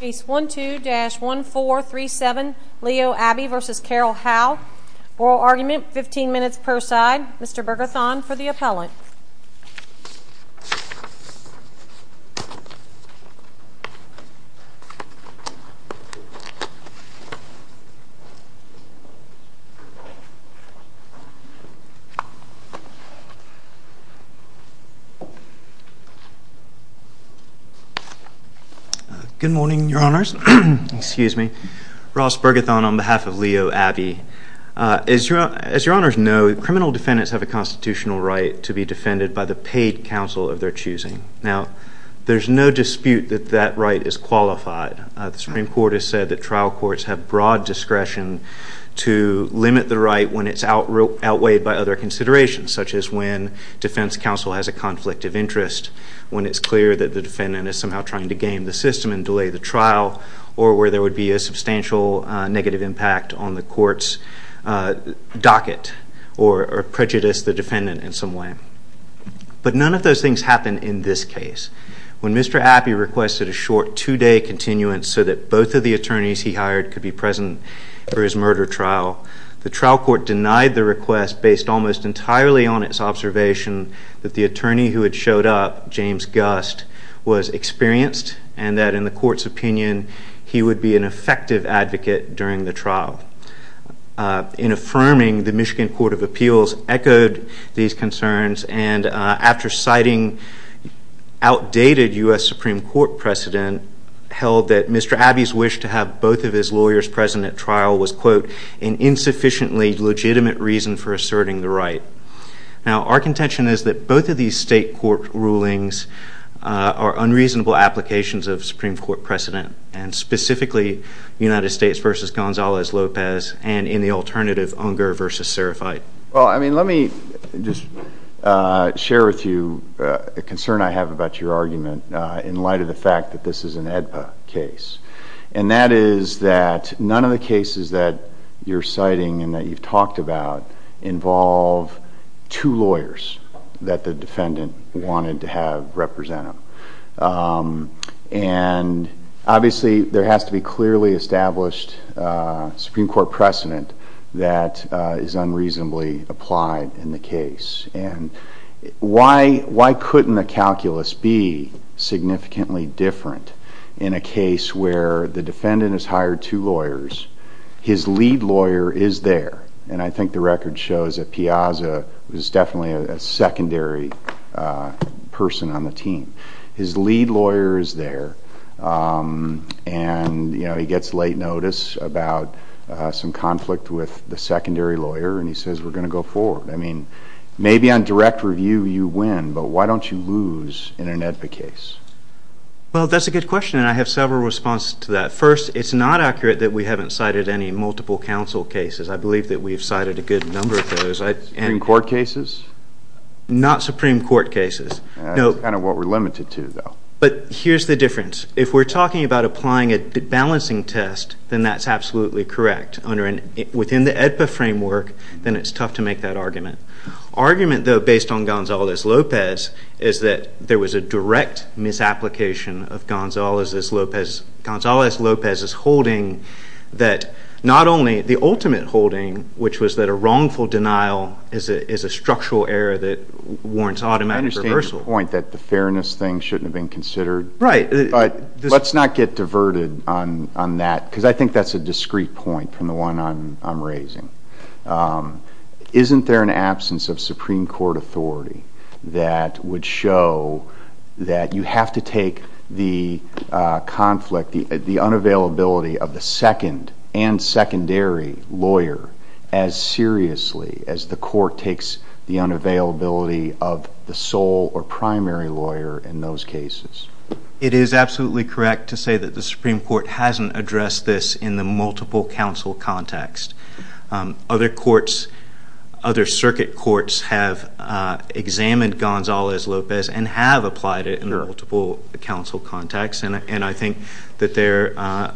Case 12-1437 Leo Abby v. Carol Howe Oral argument, 15 minutes per side. Mr. Burgerthon for the appellant. Good morning, Your Honors. Excuse me. Ross Burgerthon on behalf of Leo Abby. As Your Honors know, criminal defendants have a constitutional right to be defended by the paid counsel of their choosing. Now, there's no dispute that that right is qualified. The Supreme Court has said that trial courts have broad discretion to limit the right when it's outweighed by other considerations, such as when defense counsel has a conflict of interest, when it's clear that the defendant is somehow trying to game the system and delay the trial, or where there would be a substantial negative impact on the court's docket or prejudice the defendant in some way. But none of those things happen in this case. When Mr. Abby requested a short two-day continuance so that both of the attorneys he hired could be present for his murder trial, the trial court denied the request based almost entirely on its observation that the attorney who had showed up, James Gust, was experienced and that, in the court's opinion, he would be an effective advocate during the trial. In affirming, the Michigan Court of Appeals echoed these concerns, and after citing outdated U.S. Supreme Court precedent held that Mr. Abby's wish to have both of his lawyers present at trial was, quote, an insufficiently legitimate reason for asserting the right. Now, our contention is that both of these state court rulings are unreasonable applications of Supreme Court precedent, and specifically United States v. Gonzalez-Lopez and, in the alternative, Unger v. Serafite. Well, I mean, let me just share with you a concern I have about your argument in light of the fact that this is an AEDPA case, and that is that none of the cases that you're citing and that you've talked about involve two lawyers that the defendant wanted to have represent him. And, obviously, there has to be clearly established Supreme Court precedent that is unreasonably applied in the case. And why couldn't the calculus be significantly different in a case where the defendant has hired two lawyers, his lead lawyer is there, and I think the record shows that Piazza was definitely a secondary person on the team. His lead lawyer is there, and he gets late notice about some conflict with the secondary lawyer, and he says, we're going to go forward. I mean, maybe on direct review you win, but why don't you lose in an AEDPA case? Well, that's a good question, and I have several responses to that. First, it's not accurate that we haven't cited any multiple counsel cases. I believe that we've cited a good number of those. Supreme Court cases? Not Supreme Court cases. That's kind of what we're limited to, though. But here's the difference. If we're talking about applying a balancing test, then that's absolutely correct. Within the AEDPA framework, then it's tough to make that argument. Argument, though, based on Gonzales-Lopez is that there was a direct misapplication of Gonzales-Lopez's holding that not only the ultimate holding, which was that a wrongful denial is a structural error that warrants automatic reversal. I understand your point that the fairness thing shouldn't have been considered. Right. Let's not get diverted on that, because I think that's a discrete point from the one I'm raising. Isn't there an absence of Supreme Court authority that would show that you have to take the conflict, the unavailability of the second and secondary lawyer as seriously as the court takes the unavailability of the sole or primary lawyer in those cases? It is absolutely correct to say that the Supreme Court hasn't addressed this in the multiple counsel context. Other courts, other circuit courts, have examined Gonzales-Lopez and have applied it in multiple counsel contexts, and I think that their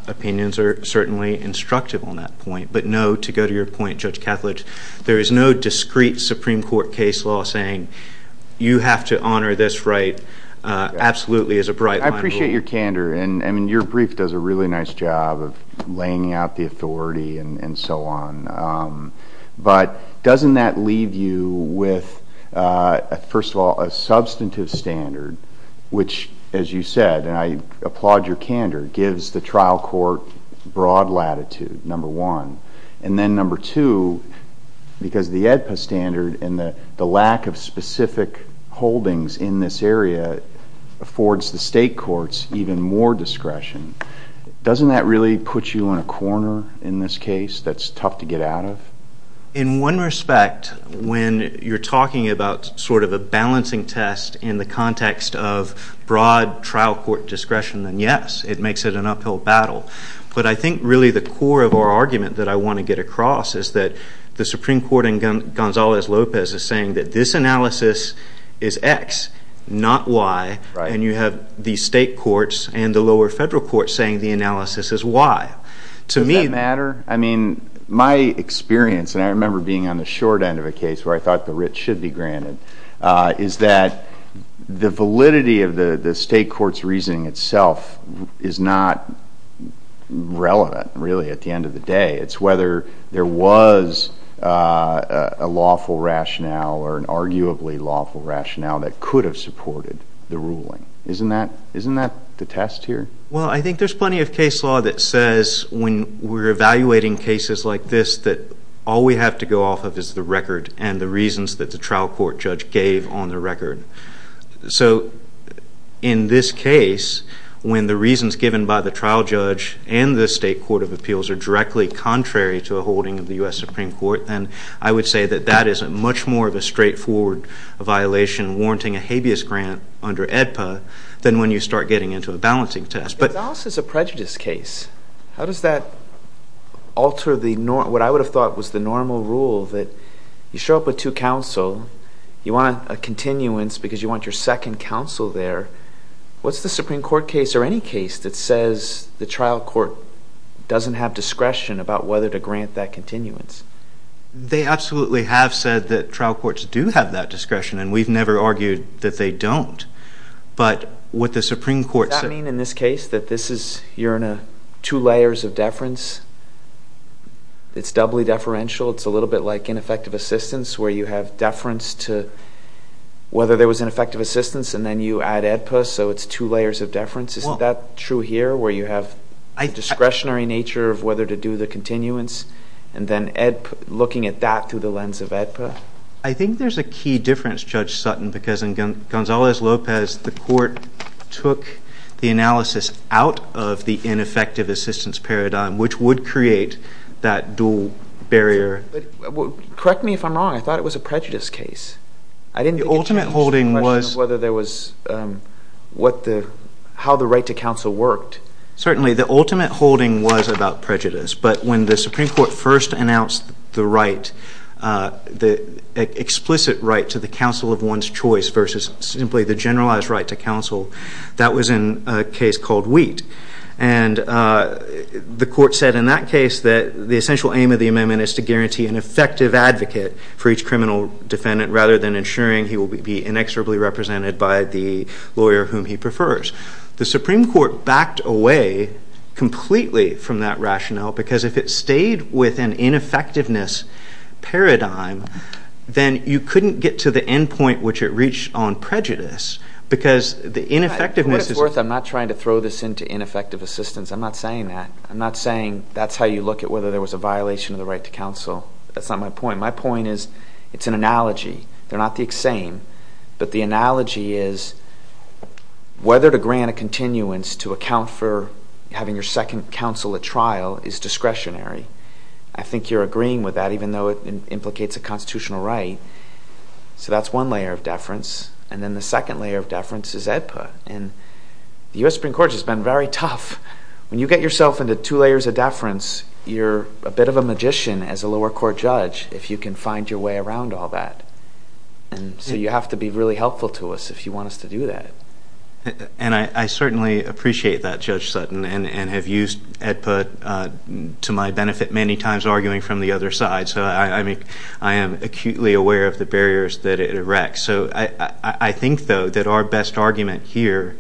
opinions are certainly instructive on that point. But, no, to go to your point, Judge Cathledge, there is no discrete Supreme Court case law saying you have to honor this right. Absolutely is a bright line of rule. I appreciate your candor, and your brief does a really nice job of laying out the authority and so on. But doesn't that leave you with, first of all, a substantive standard, which, as you said, and I applaud your candor, gives the trial court broad latitude, number one. And then, number two, because the AEDPA standard and the lack of specific holdings in this area affords the state courts even more discretion. Doesn't that really put you in a corner in this case that's tough to get out of? In one respect, when you're talking about sort of a balancing test in the context of broad trial court discretion, then yes, it makes it an uphill battle. But I think really the core of our argument that I want to get across is that the Supreme Court in Gonzalez-Lopez is saying that this analysis is X, not Y, and you have the state courts and the lower federal courts saying the analysis is Y. Does that matter? I mean, my experience, and I remember being on the short end of a case where I thought the writ should be granted, is that the validity of the state court's reasoning itself is not relevant, really, at the end of the day. It's whether there was a lawful rationale or an arguably lawful rationale that could have supported the ruling. Isn't that the test here? Well, I think there's plenty of case law that says when we're evaluating cases like this that all we have to go off of is the record and the reasons that the trial court judge gave on the record. So in this case, when the reasons given by the trial judge and the state court of appeals are directly contrary to a holding of the U.S. Supreme Court, then I would say that that is much more of a straightforward violation warranting a habeas grant under AEDPA than when you start getting into a balancing test. Exhaust is a prejudice case. How does that alter what I would have thought was the normal rule that you show up with two counsel, you want a continuance because you want your second counsel there? What's the Supreme Court case or any case that says the trial court doesn't have discretion about whether to grant that continuance? They absolutely have said that trial courts do have that discretion, and we've never argued that they don't. Does that mean in this case that you're in two layers of deference? It's doubly deferential. It's a little bit like ineffective assistance where you have deference to whether there was ineffective assistance and then you add AEDPA, so it's two layers of deference. Isn't that true here where you have a discretionary nature of whether to do the continuance and then looking at that through the lens of AEDPA? I think there's a key difference, Judge Sutton, because in Gonzalez-Lopez, the court took the analysis out of the ineffective assistance paradigm, which would create that dual barrier. Correct me if I'm wrong. I thought it was a prejudice case. The ultimate holding was— I didn't think it changed the question of whether there was—how the right to counsel worked. Certainly, the ultimate holding was about prejudice, but when the Supreme Court first announced the right, the explicit right to the counsel of one's choice versus simply the generalized right to counsel, that was in a case called Wheat. And the court said in that case that the essential aim of the amendment is to guarantee an effective advocate for each criminal defendant rather than ensuring he will be inexorably represented by the lawyer whom he prefers. The Supreme Court backed away completely from that rationale because if it stayed with an ineffectiveness paradigm, then you couldn't get to the end point which it reached on prejudice because the ineffectiveness— I'm not trying to throw this into ineffective assistance. I'm not saying that. I'm not saying that's how you look at whether there was a violation of the right to counsel. That's not my point. My point is it's an analogy. They're not the same, but the analogy is whether to grant a continuance to account for having your second counsel at trial is discretionary. I think you're agreeing with that even though it implicates a constitutional right. So that's one layer of deference. And then the second layer of deference is AEDPA, and the U.S. Supreme Court has been very tough. When you get yourself into two layers of deference, you're a bit of a magician as a lower court judge if you can find your way around all that. So you have to be really helpful to us if you want us to do that. And I certainly appreciate that, Judge Sutton, and have used AEDPA to my benefit many times arguing from the other side. So I am acutely aware of the barriers that it erects. So I think, though, that our best argument here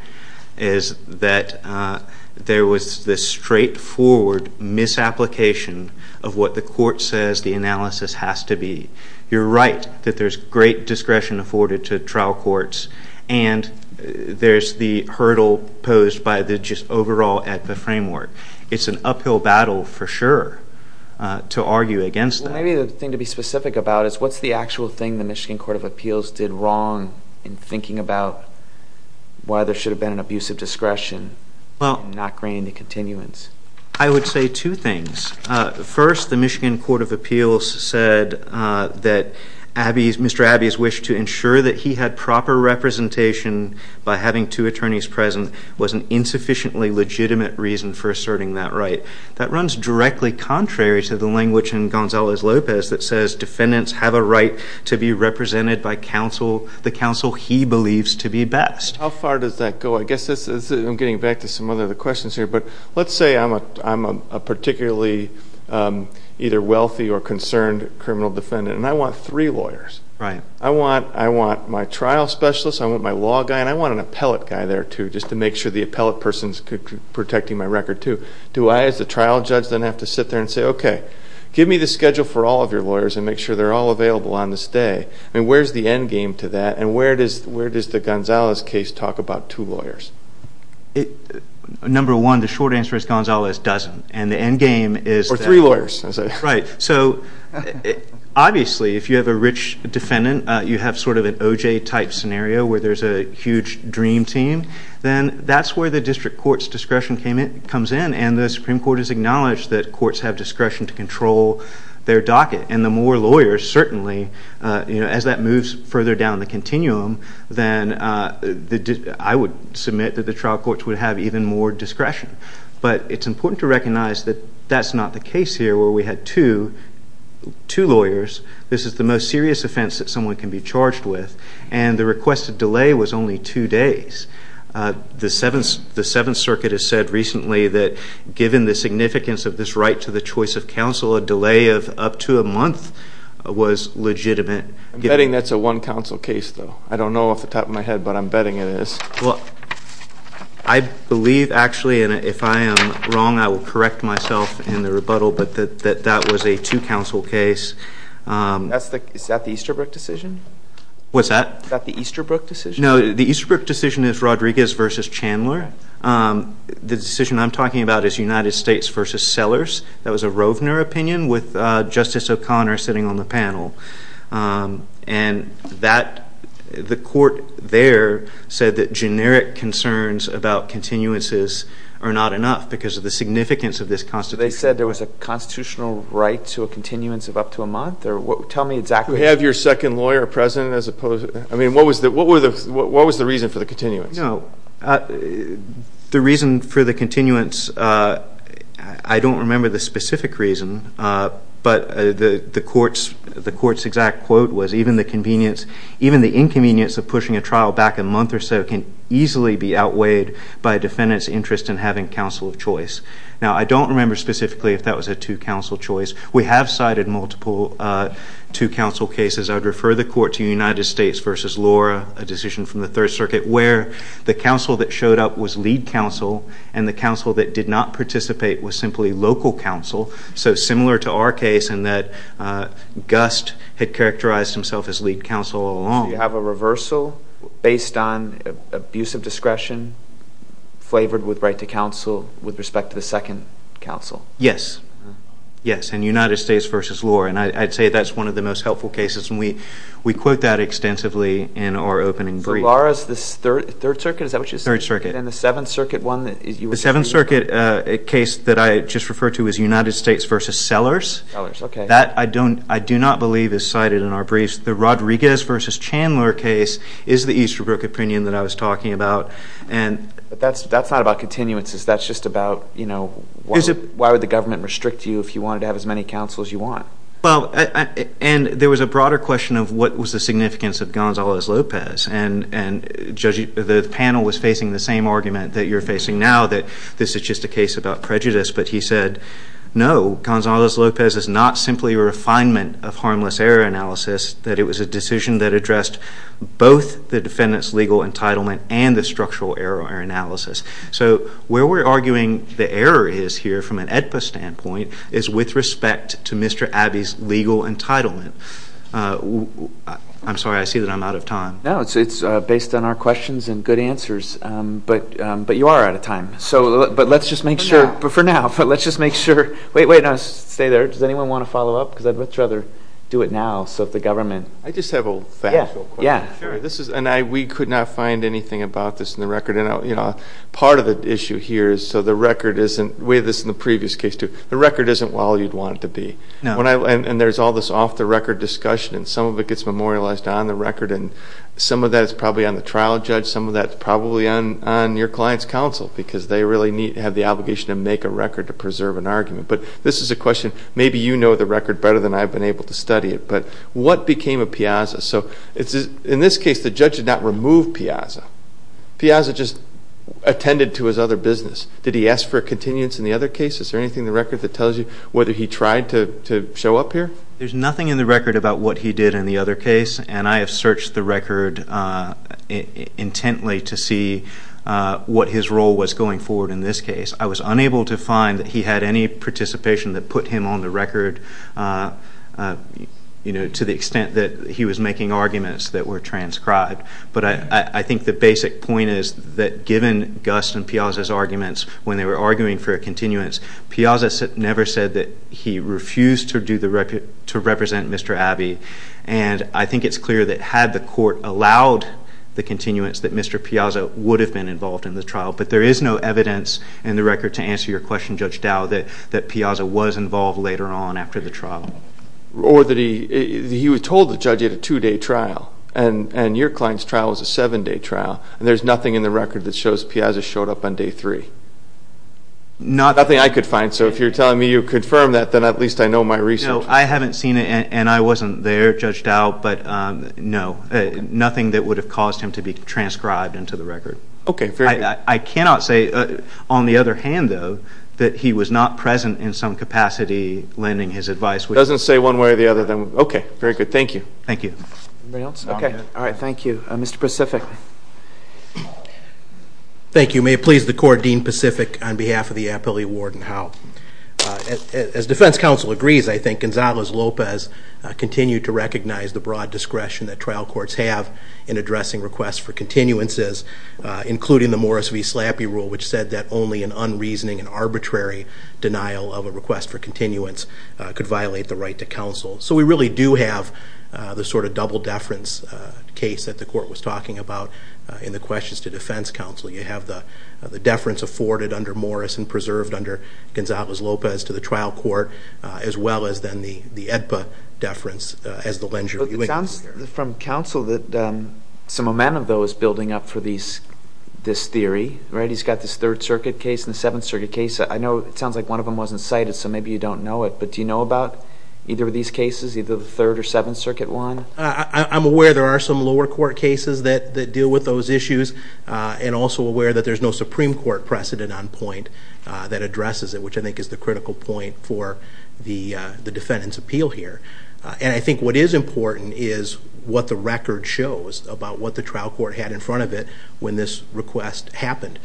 is that there was this straightforward misapplication of what the court says the analysis has to be. You're right that there's great discretion afforded to trial courts, and there's the hurdle posed by the just overall AEDPA framework. It's an uphill battle, for sure, to argue against that. Well, maybe the thing to be specific about is what's the actual thing the Michigan Court of Appeals did wrong in thinking about why there should have been an abusive discretion and not granted continuance? I would say two things. First, the Michigan Court of Appeals said that Mr. Abbey's wish to ensure that he had proper representation by having two attorneys present was an insufficiently legitimate reason for asserting that right. That runs directly contrary to the language in Gonzalez-Lopez that says defendants have a right to be represented by the counsel he believes to be best. How far does that go? I guess I'm getting back to some other questions here, but let's say I'm a particularly either wealthy or concerned criminal defendant, and I want three lawyers. Right. I want my trial specialist, I want my law guy, and I want an appellate guy there, too, just to make sure the appellate person's protecting my record, too. Do I, as the trial judge, then have to sit there and say, okay, give me the schedule for all of your lawyers and make sure they're all available on this day? I mean, where's the end game to that, and where does the Gonzalez case talk about two lawyers? Number one, the short answer is Gonzalez doesn't, and the end game is that. Or three lawyers. Right. So, obviously, if you have a rich defendant, you have sort of an OJ-type scenario where there's a huge dream team. Then that's where the district court's discretion comes in, and the Supreme Court has acknowledged that courts have discretion to control their docket. And the more lawyers, certainly, as that moves further down the continuum, then I would submit that the trial courts would have even more discretion. But it's important to recognize that that's not the case here where we had two lawyers. This is the most serious offense that someone can be charged with, and the requested delay was only two days. The Seventh Circuit has said recently that given the significance of this right to the choice of counsel, a delay of up to a month was legitimate. I'm betting that's a one-counsel case, though. I don't know off the top of my head, but I'm betting it is. Well, I believe, actually, and if I am wrong, I will correct myself in the rebuttal, but that that was a two-counsel case. Is that the Easterbrook decision? What's that? Is that the Easterbrook decision? No, the Easterbrook decision is Rodriguez v. Chandler. The decision I'm talking about is United States v. Sellers. That was a Rovner opinion with Justice O'Connor sitting on the panel. And the court there said that generic concerns about continuances are not enough because of the significance of this Constitution. They said there was a constitutional right to a continuance of up to a month? Tell me exactly. Did you have your second lawyer present? I mean, what was the reason for the continuance? No, the reason for the continuance, I don't remember the specific reason, but the court's exact quote was, even the inconvenience of pushing a trial back a month or so can easily be outweighed by a defendant's interest in having counsel of choice. Now, I don't remember specifically if that was a two-counsel choice. We have cited multiple two-counsel cases. I would refer the court to United States v. Laura, a decision from the Third Circuit where the counsel that showed up was lead counsel and the counsel that did not participate was simply local counsel, so similar to our case in that Gust had characterized himself as lead counsel all along. So you have a reversal based on abuse of discretion flavored with right to counsel with respect to the second counsel? Yes, yes, and United States v. Laura, and I'd say that's one of the most helpful cases, and we quote that extensively in our opening brief. So Laura's the Third Circuit, is that what you said? Third Circuit. And the Seventh Circuit one? The Seventh Circuit case that I just referred to is United States v. Sellers. Sellers, okay. That I do not believe is cited in our briefs. The Rodriguez v. Chandler case is the Easterbrook opinion that I was talking about. But that's not about continuances, that's just about, you know, why would the government restrict you if you wanted to have as many counsels as you want? Well, and there was a broader question of what was the significance of Gonzalez-Lopez, and the panel was facing the same argument that you're facing now, that this is just a case about prejudice, but he said, no, Gonzalez-Lopez is not simply a refinement of harmless error analysis, that it was a decision that addressed both the defendant's legal entitlement and the structural error analysis. So where we're arguing the error is here, from an AEDPA standpoint, is with respect to Mr. Abbey's legal entitlement. I'm sorry, I see that I'm out of time. No, it's based on our questions and good answers. But you are out of time. But let's just make sure. For now. For now. But let's just make sure. Wait, wait, no, stay there. Does anyone want to follow up? Because I'd much rather do it now, so if the government… I just have a factual question. And we could not find anything about this in the record. Part of the issue here is so the record isn't – we had this in the previous case too – the record isn't all you'd want it to be. And there's all this off-the-record discussion, and some of it gets memorialized on the record, and some of that is probably on the trial judge, some of that is probably on your client's counsel, because they really have the obligation to make a record to preserve an argument. But this is a question. Maybe you know the record better than I've been able to study it. But what became of Piazza? In this case, the judge did not remove Piazza. Piazza just attended to his other business. Did he ask for a continuance in the other case? Is there anything in the record that tells you whether he tried to show up here? There's nothing in the record about what he did in the other case, and I have searched the record intently to see what his role was going forward in this case. I was unable to find that he had any participation that put him on the record to the extent that he was making arguments that were transcribed. But I think the basic point is that given Gus and Piazza's arguments, when they were arguing for a continuance, Piazza never said that he refused to represent Mr. Abbey. And I think it's clear that had the court allowed the continuance, that Mr. Piazza would have been involved in the trial. But there is no evidence in the record to answer your question, Judge Dow, that Piazza was involved later on after the trial. Or that he was told the judge had a two-day trial, and your client's trial was a seven-day trial, and there's nothing in the record that shows Piazza showed up on day three? Nothing I could find. So if you're telling me you confirmed that, then at least I know my research. No, I haven't seen it, and I wasn't there, Judge Dow. But no, nothing that would have caused him to be transcribed into the record. Okay, very good. I cannot say, on the other hand, though, that he was not present in some capacity lending his advice. Doesn't say one way or the other, then. Okay, very good. Thank you. Thank you. Anybody else? Okay. All right, thank you. Mr. Pacific. Thank you. May it please the Court, Dean Pacific, on behalf of the Appellee Ward and House. As defense counsel agrees, I think Gonzalez-Lopez continued to recognize the broad discretion that trial courts have in addressing requests for continuances, including the Morris v. Slappy rule, which said that only an unreasoning and arbitrary denial of a request for continuance could violate the right to counsel. So we really do have the sort of double-deference case that the Court was talking about in the questions to defense counsel. You have the deference afforded under Morris and preserved under Gonzalez-Lopez to the trial court, as well as, then, the AEDPA deference as the lender. It sounds from counsel that some momentum, though, is building up for this theory, right? He's got this Third Circuit case and the Seventh Circuit case. I know it sounds like one of them wasn't cited, so maybe you don't know it, but do you know about either of these cases, either the Third or Seventh Circuit one? I'm aware there are some lower court cases that deal with those issues and also aware that there's no Supreme Court precedent on point that addresses it, which I think is the critical point for the defendant's appeal here. And I think what is important is what the record shows about what the trial court had in front of it when this request happened.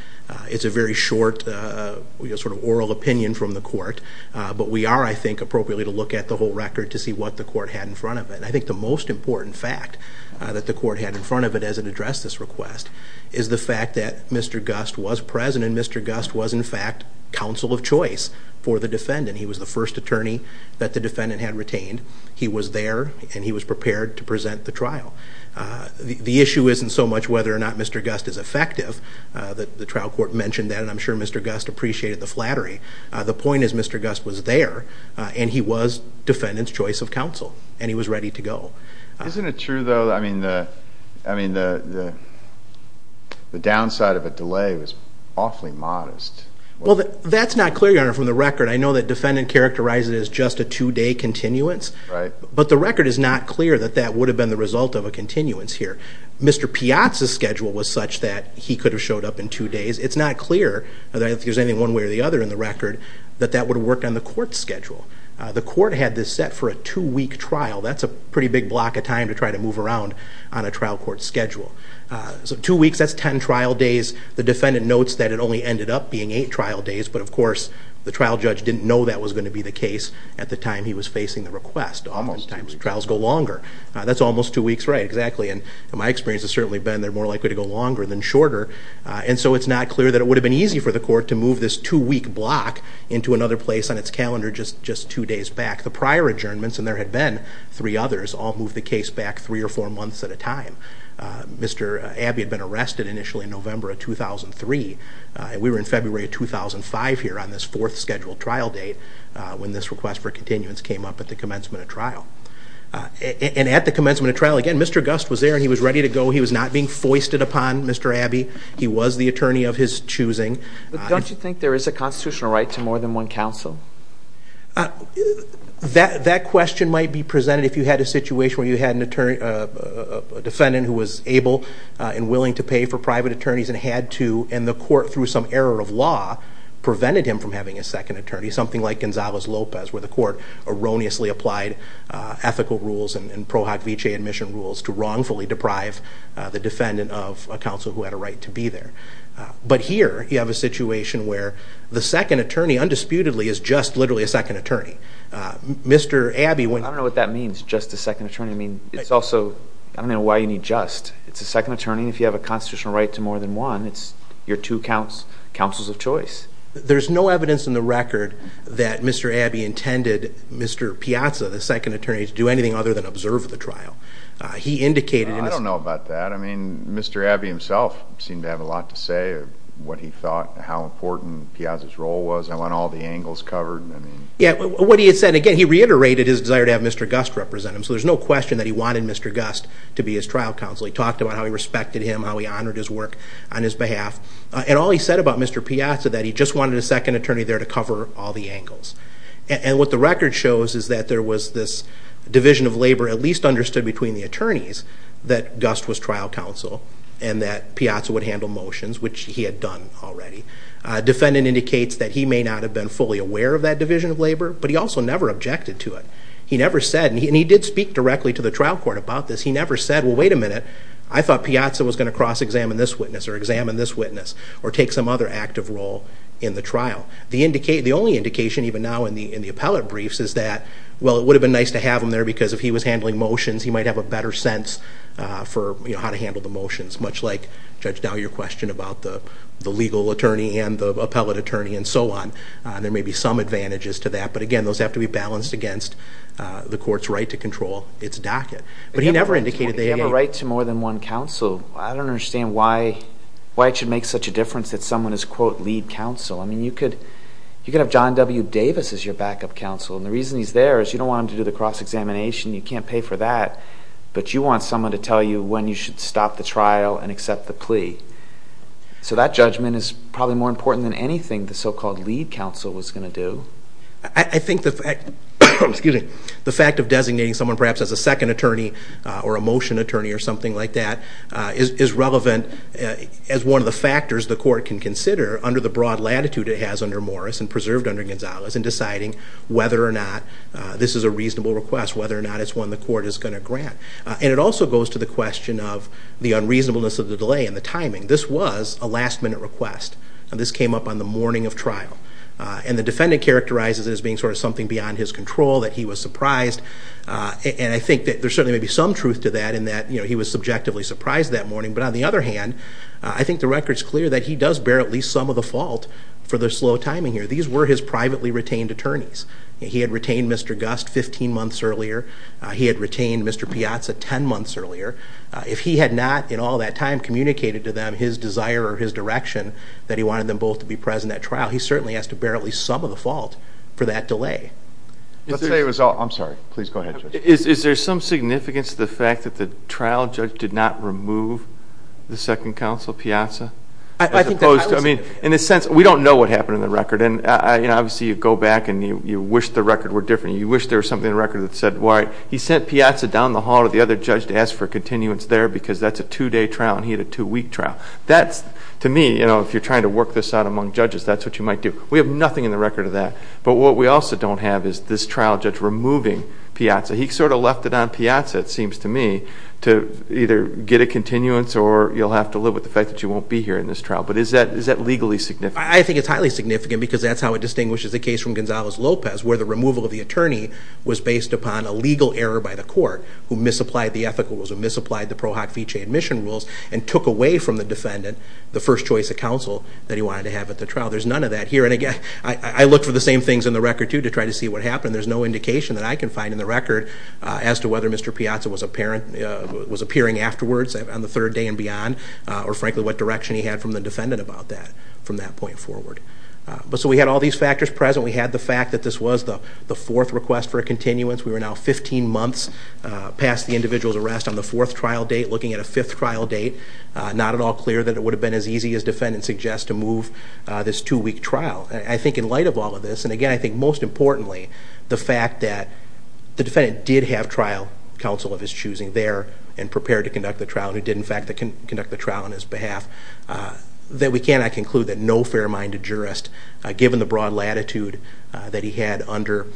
It's a very short sort of oral opinion from the court, but we are, I think, appropriately to look at the whole record to see what the court had in front of it. I think the most important fact that the court had in front of it as it addressed this request is the fact that Mr. Gust was present and Mr. Gust was, in fact, counsel of choice for the defendant. He was the first attorney that the defendant had retained. He was there, and he was prepared to present the trial. The issue isn't so much whether or not Mr. Gust is effective. The trial court mentioned that, and I'm sure Mr. Gust appreciated the flattery. The point is Mr. Gust was there, and he was defendant's choice of counsel, and he was ready to go. Isn't it true, though, I mean, the downside of a delay was awfully modest? Well, that's not clear, Your Honor, from the record. I know the defendant characterized it as just a two-day continuance, but the record is not clear that that would have been the result of a continuance here. Mr. Piazza's schedule was such that he could have showed up in two days. It's not clear, if there's anything one way or the other in the record, that that would have worked on the court's schedule. The court had this set for a two-week trial. That's a pretty big block of time to try to move around on a trial court's schedule. So two weeks, that's 10 trial days. The defendant notes that it only ended up being eight trial days, but, of course, the trial judge didn't know that was going to be the case at the time he was facing the request. Most times trials go longer. That's almost two weeks, right, exactly. And my experience has certainly been they're more likely to go longer than shorter. And so it's not clear that it would have been easy for the court to move this two-week block into another place on its calendar just two days back. The prior adjournments, and there had been three others, all moved the case back three or four months at a time. Mr. Abbey had been arrested initially in November of 2003. We were in February of 2005 here on this fourth scheduled trial date when this request for continuance came up at the commencement of trial. And at the commencement of trial, again, Mr. Gust was there and he was ready to go. He was not being foisted upon Mr. Abbey. He was the attorney of his choosing. But don't you think there is a constitutional right to more than one counsel? That question might be presented if you had a situation where you had a defendant who was able and willing to pay for private attorneys and had to, and the court, through some error of law, prevented him from having a second attorney, something like Gonzalez-Lopez, where the court erroneously applied ethical rules and Pro Hoc Vitae admission rules to wrongfully deprive the defendant of a counsel who had a right to be there. But here you have a situation where the second attorney, undisputedly, is just literally a second attorney. I don't know what that means, just a second attorney. I mean, it's also, I don't know why you need just. It's a second attorney, and if you have a constitutional right to more than one, you're two counsels of choice. There's no evidence in the record that Mr. Abbey intended Mr. Piazza, the second attorney, to do anything other than observe the trial. I don't know about that. I mean, Mr. Abbey himself seemed to have a lot to say of what he thought and how important Piazza's role was. I want all the angles covered. What he had said, again, he reiterated his desire to have Mr. Gust represent him, so there's no question that he wanted Mr. Gust to be his trial counsel. He talked about how he respected him, how he honored his work on his behalf. And all he said about Mr. Piazza, that he just wanted a second attorney there to cover all the angles. And what the record shows is that there was this division of labor, at least understood between the attorneys, that Gust was trial counsel and that Piazza would handle motions, which he had done already. Defendant indicates that he may not have been fully aware of that division of labor, but he also never objected to it. He never said, and he did speak directly to the trial court about this, he never said, well, wait a minute, I thought Piazza was going to cross-examine this witness or examine this witness or take some other active role in the trial. The only indication, even now in the appellate briefs, is that, well, it would have been nice to have him there because if he was handling motions, he might have a better sense for how to handle the motions, much like Judge Dowd, your question about the legal attorney and the appellate attorney and so on. There may be some advantages to that, but again, those have to be balanced against the court's right to control its docket. But he never indicated that he had a— If you have a right to more than one counsel, I don't understand why it should make such a difference that someone is, quote, lead counsel. I mean, you could have John W. Davis as your backup counsel, and the reason he's there is you don't want him to do the cross-examination, you can't pay for that, but you want someone to tell you when you should stop the trial and accept the plea. So that judgment is probably more important than anything the so-called lead counsel was going to do. I think the fact of designating someone perhaps as a second attorney or a motion attorney or something like that is relevant as one of the factors the court can consider under the broad latitude it has under Morris and preserved under Gonzalez in deciding whether or not this is a reasonable request, whether or not it's one the court is going to grant. And it also goes to the question of the unreasonableness of the delay and the timing. This was a last-minute request. This came up on the morning of trial. And the defendant characterizes it as being sort of something beyond his control, that he was surprised. And I think that there certainly may be some truth to that in that he was subjectively surprised that morning. But on the other hand, I think the record is clear that he does bear at least some of the fault for the slow timing here. These were his privately retained attorneys. He had retained Mr. Gust 15 months earlier. He had retained Mr. Piazza 10 months earlier. If he had not in all that time communicated to them his desire or his direction that he wanted them both to be present at trial, he certainly has to bear at least some of the fault for that delay. I'm sorry. Please go ahead, Judge. Is there some significance to the fact that the trial judge did not remove the second counsel, Piazza? In a sense, we don't know what happened in the record. Obviously, you go back and you wish the record were different. You wish there was something in the record that said, he sent Piazza down the hall to the other judge to ask for continuance there because that's a two-day trial and he had a two-week trial. To me, if you're trying to work this out among judges, that's what you might do. We have nothing in the record of that. But what we also don't have is this trial judge removing Piazza. He sort of left it on Piazza, it seems to me, to either get a continuance or you'll have to live with the fact that you won't be here in this trial. But is that legally significant? I think it's highly significant because that's how it distinguishes the case from Gonzalez-Lopez where the removal of the attorney was based upon a legal error by the court who misapplied the ethical rules and misapplied the Pro Hoc Fice admission rules and took away from the defendant the first choice of counsel that he wanted to have at the trial. There's none of that here. And again, I look for the same things in the record, too, to try to see what happened. There's no indication that I can find in the record as to whether Mr. Piazza was appearing afterwards on the third day and beyond or, frankly, what direction he had from the defendant about that from that point forward. So we had all these factors present. We had the fact that this was the fourth request for a continuance. We were now 15 months past the individual's arrest on the fourth trial date, looking at a fifth trial date. Not at all clear that it would have been as easy, as defendants suggest, to move this two-week trial. I think in light of all of this, and again, I think most importantly, the fact that the defendant did have trial counsel of his choosing there and prepared to conduct the trial and did, in fact, conduct the trial on his behalf, that we cannot conclude that no fair-minded jurist, given the broad latitude that he had under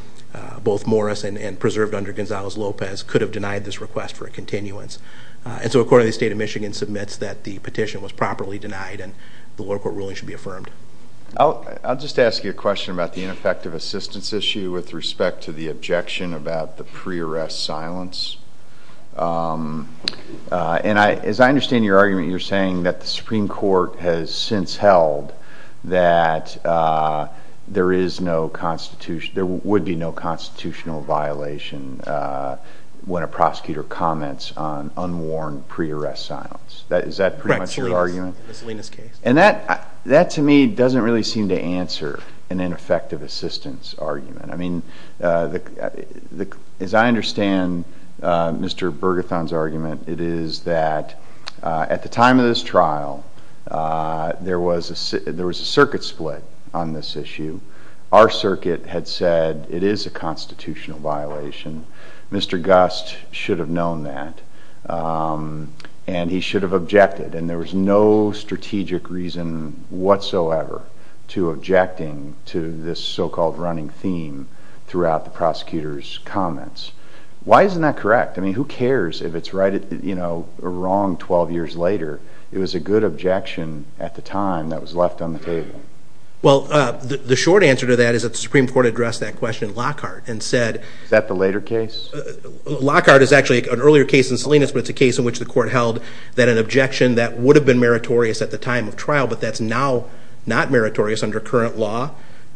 both Morris and preserved under Gonzales-Lopez, could have denied this request for a continuance. So a court in the state of Michigan submits that the petition was properly denied and the lower court ruling should be affirmed. I'll just ask you a question about the ineffective assistance issue with respect to the objection about the pre-arrest silence. As I understand your argument, you're saying that the Supreme Court has since held that there would be no constitutional violation when a prosecutor comments on unworn pre-arrest silence. Is that pretty much your argument? Correct. Miscellaneous case. And that, to me, doesn't really seem to answer an ineffective assistance argument. I mean, as I understand Mr. Bergethon's argument, it is that at the time of this trial, there was a circuit split on this issue. Our circuit had said it is a constitutional violation. Mr. Gust should have known that, and he should have objected. And there was no strategic reason whatsoever to objecting to this so-called running theme throughout the prosecutor's comments. Why isn't that correct? I mean, who cares if it's right or wrong 12 years later? It was a good objection at the time that was left on the table. Well, the short answer to that is that the Supreme Court addressed that question in Lockhart. Is that the later case? Lockhart is actually an earlier case in Salinas, but it's a case in which the court held that an objection that would have been meritorious at the time of trial but that's now not meritorious under current law,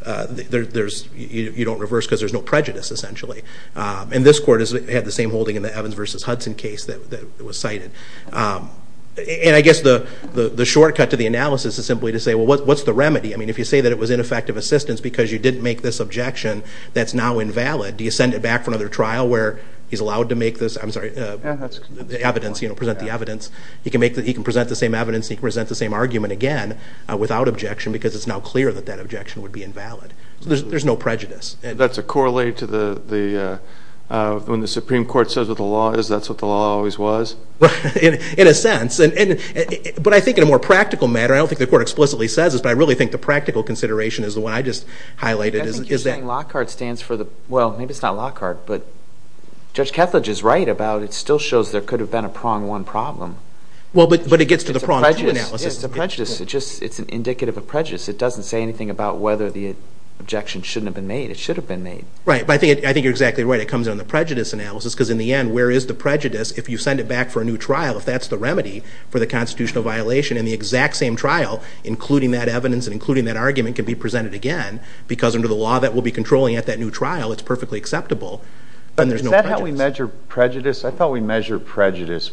you don't reverse because there's no prejudice, essentially. And this court had the same holding in the Evans v. Hudson case that was cited. And I guess the shortcut to the analysis is simply to say, well, what's the remedy? I mean, if you say that it was ineffective assistance because you didn't make this objection that's now invalid, do you send it back for another trial where he's allowed to make this? I'm sorry, the evidence, you know, present the evidence. He can present the same evidence and he can present the same argument again without objection because it's now clear that that objection would be invalid. There's no prejudice. That's a correlate to when the Supreme Court says what the law is, that's what the law always was? In a sense. But I think in a more practical matter, I don't think the court explicitly says this, but I really think the practical consideration is the one I just highlighted. I think you're saying Lockhart stands for the – well, maybe it's not Lockhart, but Judge Kethledge is right about it still shows there could have been a prong one problem. Well, but it gets to the prong two analysis. It's a prejudice. It's an indicative of prejudice. It doesn't say anything about whether the objection shouldn't have been made. It should have been made. Right, but I think you're exactly right. It comes down to the prejudice analysis because in the end, where is the prejudice if you send it back for a new trial if that's the remedy for the constitutional violation and the exact same trial, including that evidence and including that argument, can be presented again because under the law that we'll be controlling at that new trial, it's perfectly acceptable and there's no prejudice. Is that how we measure prejudice? I thought we measured prejudice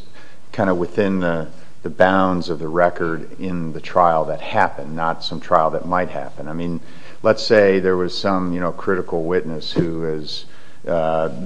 kind of within the bounds of the record in the trial that happened, not some trial that might happen. I mean, let's say there was some critical witness who has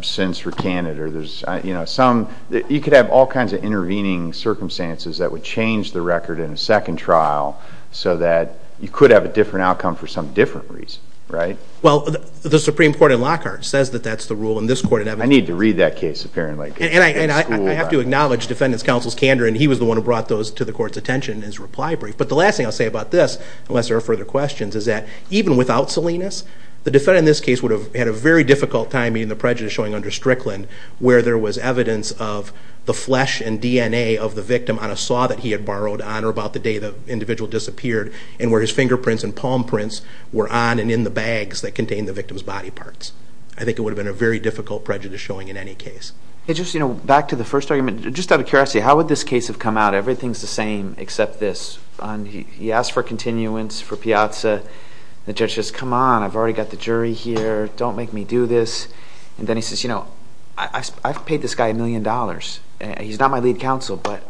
since recanted or there's some, you could have all kinds of intervening circumstances that would change the record in a second trial so that you could have a different outcome for some different reason, right? Well, the Supreme Court in Lockhart says that that's the rule in this court. I need to read that case apparently. And I have to acknowledge defendant's counsel's candor and he was the one who brought those to the court's attention in his reply brief. But the last thing I'll say about this, unless there are further questions, is that even without Salinas, the defendant in this case would have had a very difficult time meeting the prejudice showing under Strickland where there was evidence of the flesh and DNA of the victim on a saw that he had borrowed on or about the day the individual disappeared and where his fingerprints and palm prints were on and in the bags that contained the victim's body parts. I think it would have been a very difficult prejudice showing in any case. Just back to the first argument, just out of curiosity, how would this case have come out? Everything's the same except this. He asked for continuance for Piazza. The judge says, come on, I've already got the jury here. Don't make me do this. And then he says, you know, I've paid this guy a million dollars. He's not my lead counsel, but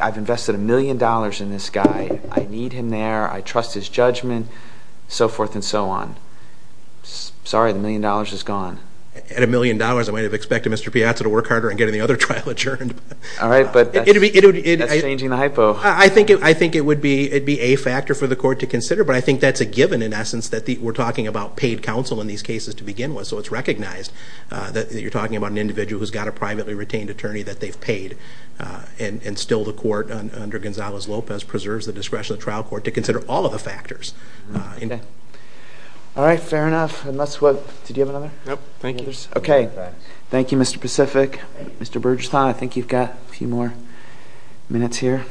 I've invested a million dollars in this guy. I need him there. I trust his judgment, so forth and so on. Sorry, the million dollars is gone. At a million dollars, I might have expected Mr. Piazza to work harder and get any other trial adjourned. All right, but that's changing the hypo. I think it would be a factor for the court to consider, but I think that's a given in essence that we're talking about paid counsel in these cases to begin with. So it's recognized that you're talking about an individual who's got a privately retained attorney that they've paid, and still the court under Gonzales-Lopez preserves the discretion of the trial court to consider all of the factors. All right, fair enough. Did you have another? No, thank you. Okay, thank you, Mr. Pacific. Mr. Bergeson, I think you've got a few more minutes here.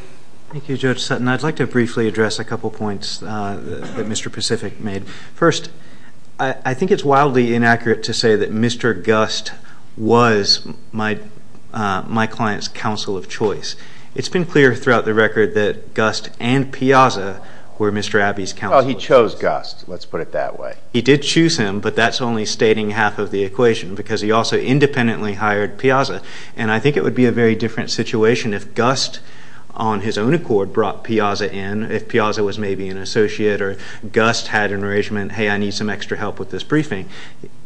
Thank you, Judge Sutton. I'd like to briefly address a couple points that Mr. Pacific made. First, I think it's wildly inaccurate to say that Mr. Gust was my client's counsel of choice. It's been clear throughout the record that Gust and Piazza were Mr. Abbey's counsel of choice. Well, he chose Gust. Let's put it that way. He did choose him, but that's only stating half of the equation because he also independently hired Piazza, and I think it would be a very different situation if Gust, on his own accord, brought Piazza in, if Piazza was maybe an associate or Gust had an arrangement, hey, I need some extra help with this briefing.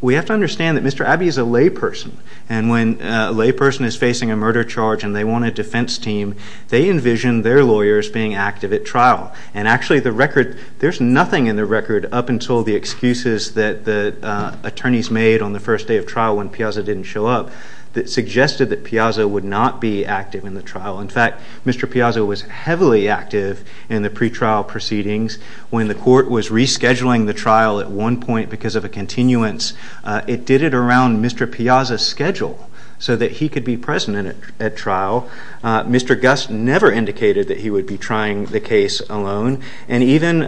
We have to understand that Mr. Abbey is a layperson, and when a layperson is facing a murder charge and they want a defense team, they envision their lawyers being active at trial, attorneys made on the first day of trial when Piazza didn't show up, that suggested that Piazza would not be active in the trial. In fact, Mr. Piazza was heavily active in the pretrial proceedings. When the court was rescheduling the trial at one point because of a continuance, it did it around Mr. Piazza's schedule so that he could be present at trial. Mr. Gust never indicated that he would be trying the case alone, and even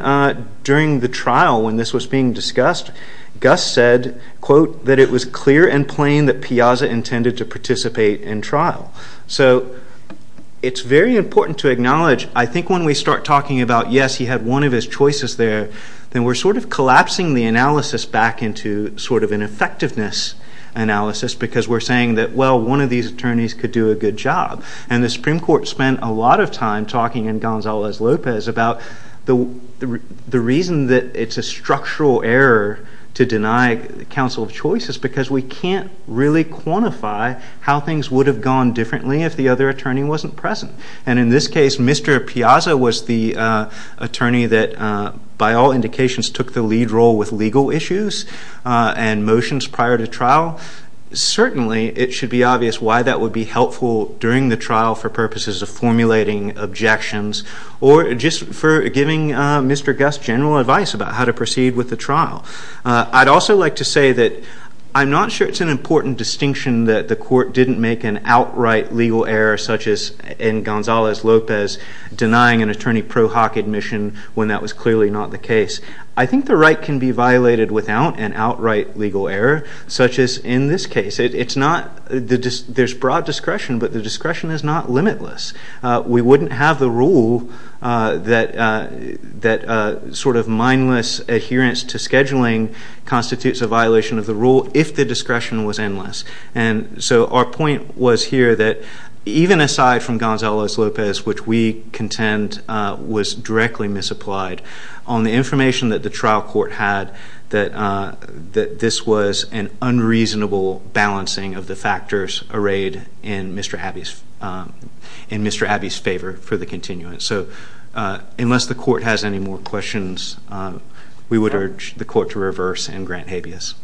during the trial when this was being discussed, Gust said, quote, that it was clear and plain that Piazza intended to participate in trial. So it's very important to acknowledge, I think when we start talking about, yes, he had one of his choices there, then we're sort of collapsing the analysis back into sort of an effectiveness analysis because we're saying that, well, one of these attorneys could do a good job. And the Supreme Court spent a lot of time talking in Gonzales-Lopez about the reason that it's a structural error to deny counsel of choices because we can't really quantify how things would have gone differently if the other attorney wasn't present. And in this case, Mr. Piazza was the attorney that, by all indications, took the lead role with legal issues and motions prior to trial. Certainly it should be obvious why that would be helpful during the trial for purposes of formulating objections or just for giving Mr. Gust general advice about how to proceed with the trial. I'd also like to say that I'm not sure it's an important distinction that the court didn't make an outright legal error such as in Gonzales-Lopez denying an attorney pro hoc admission when that was clearly not the case. I think the right can be violated without an outright legal error such as in this case. There's broad discretion, but the discretion is not limitless. We wouldn't have the rule that sort of mindless adherence to scheduling constitutes a violation of the rule if the discretion was endless. And so our point was here that even aside from Gonzales-Lopez, which we contend was directly misapplied, on the information that the trial court had that this was an unreasonable balancing of the factors arrayed in Mr. Abbey's favor for the continuance. So unless the court has any more questions, we would urge the court to reverse and grant habeas.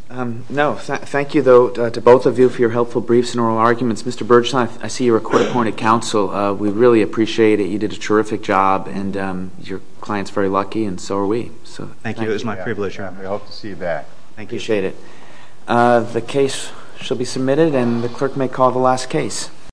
No, thank you, though, to both of you for your helpful briefs and oral arguments. Mr. Bergeson, I see you're a court-appointed counsel. We really appreciate it. You did a terrific job, and your client's very lucky, and so are we. Thank you. It was my privilege. We hope to see you back. Appreciate it. The case shall be submitted, and the clerk may call the last case.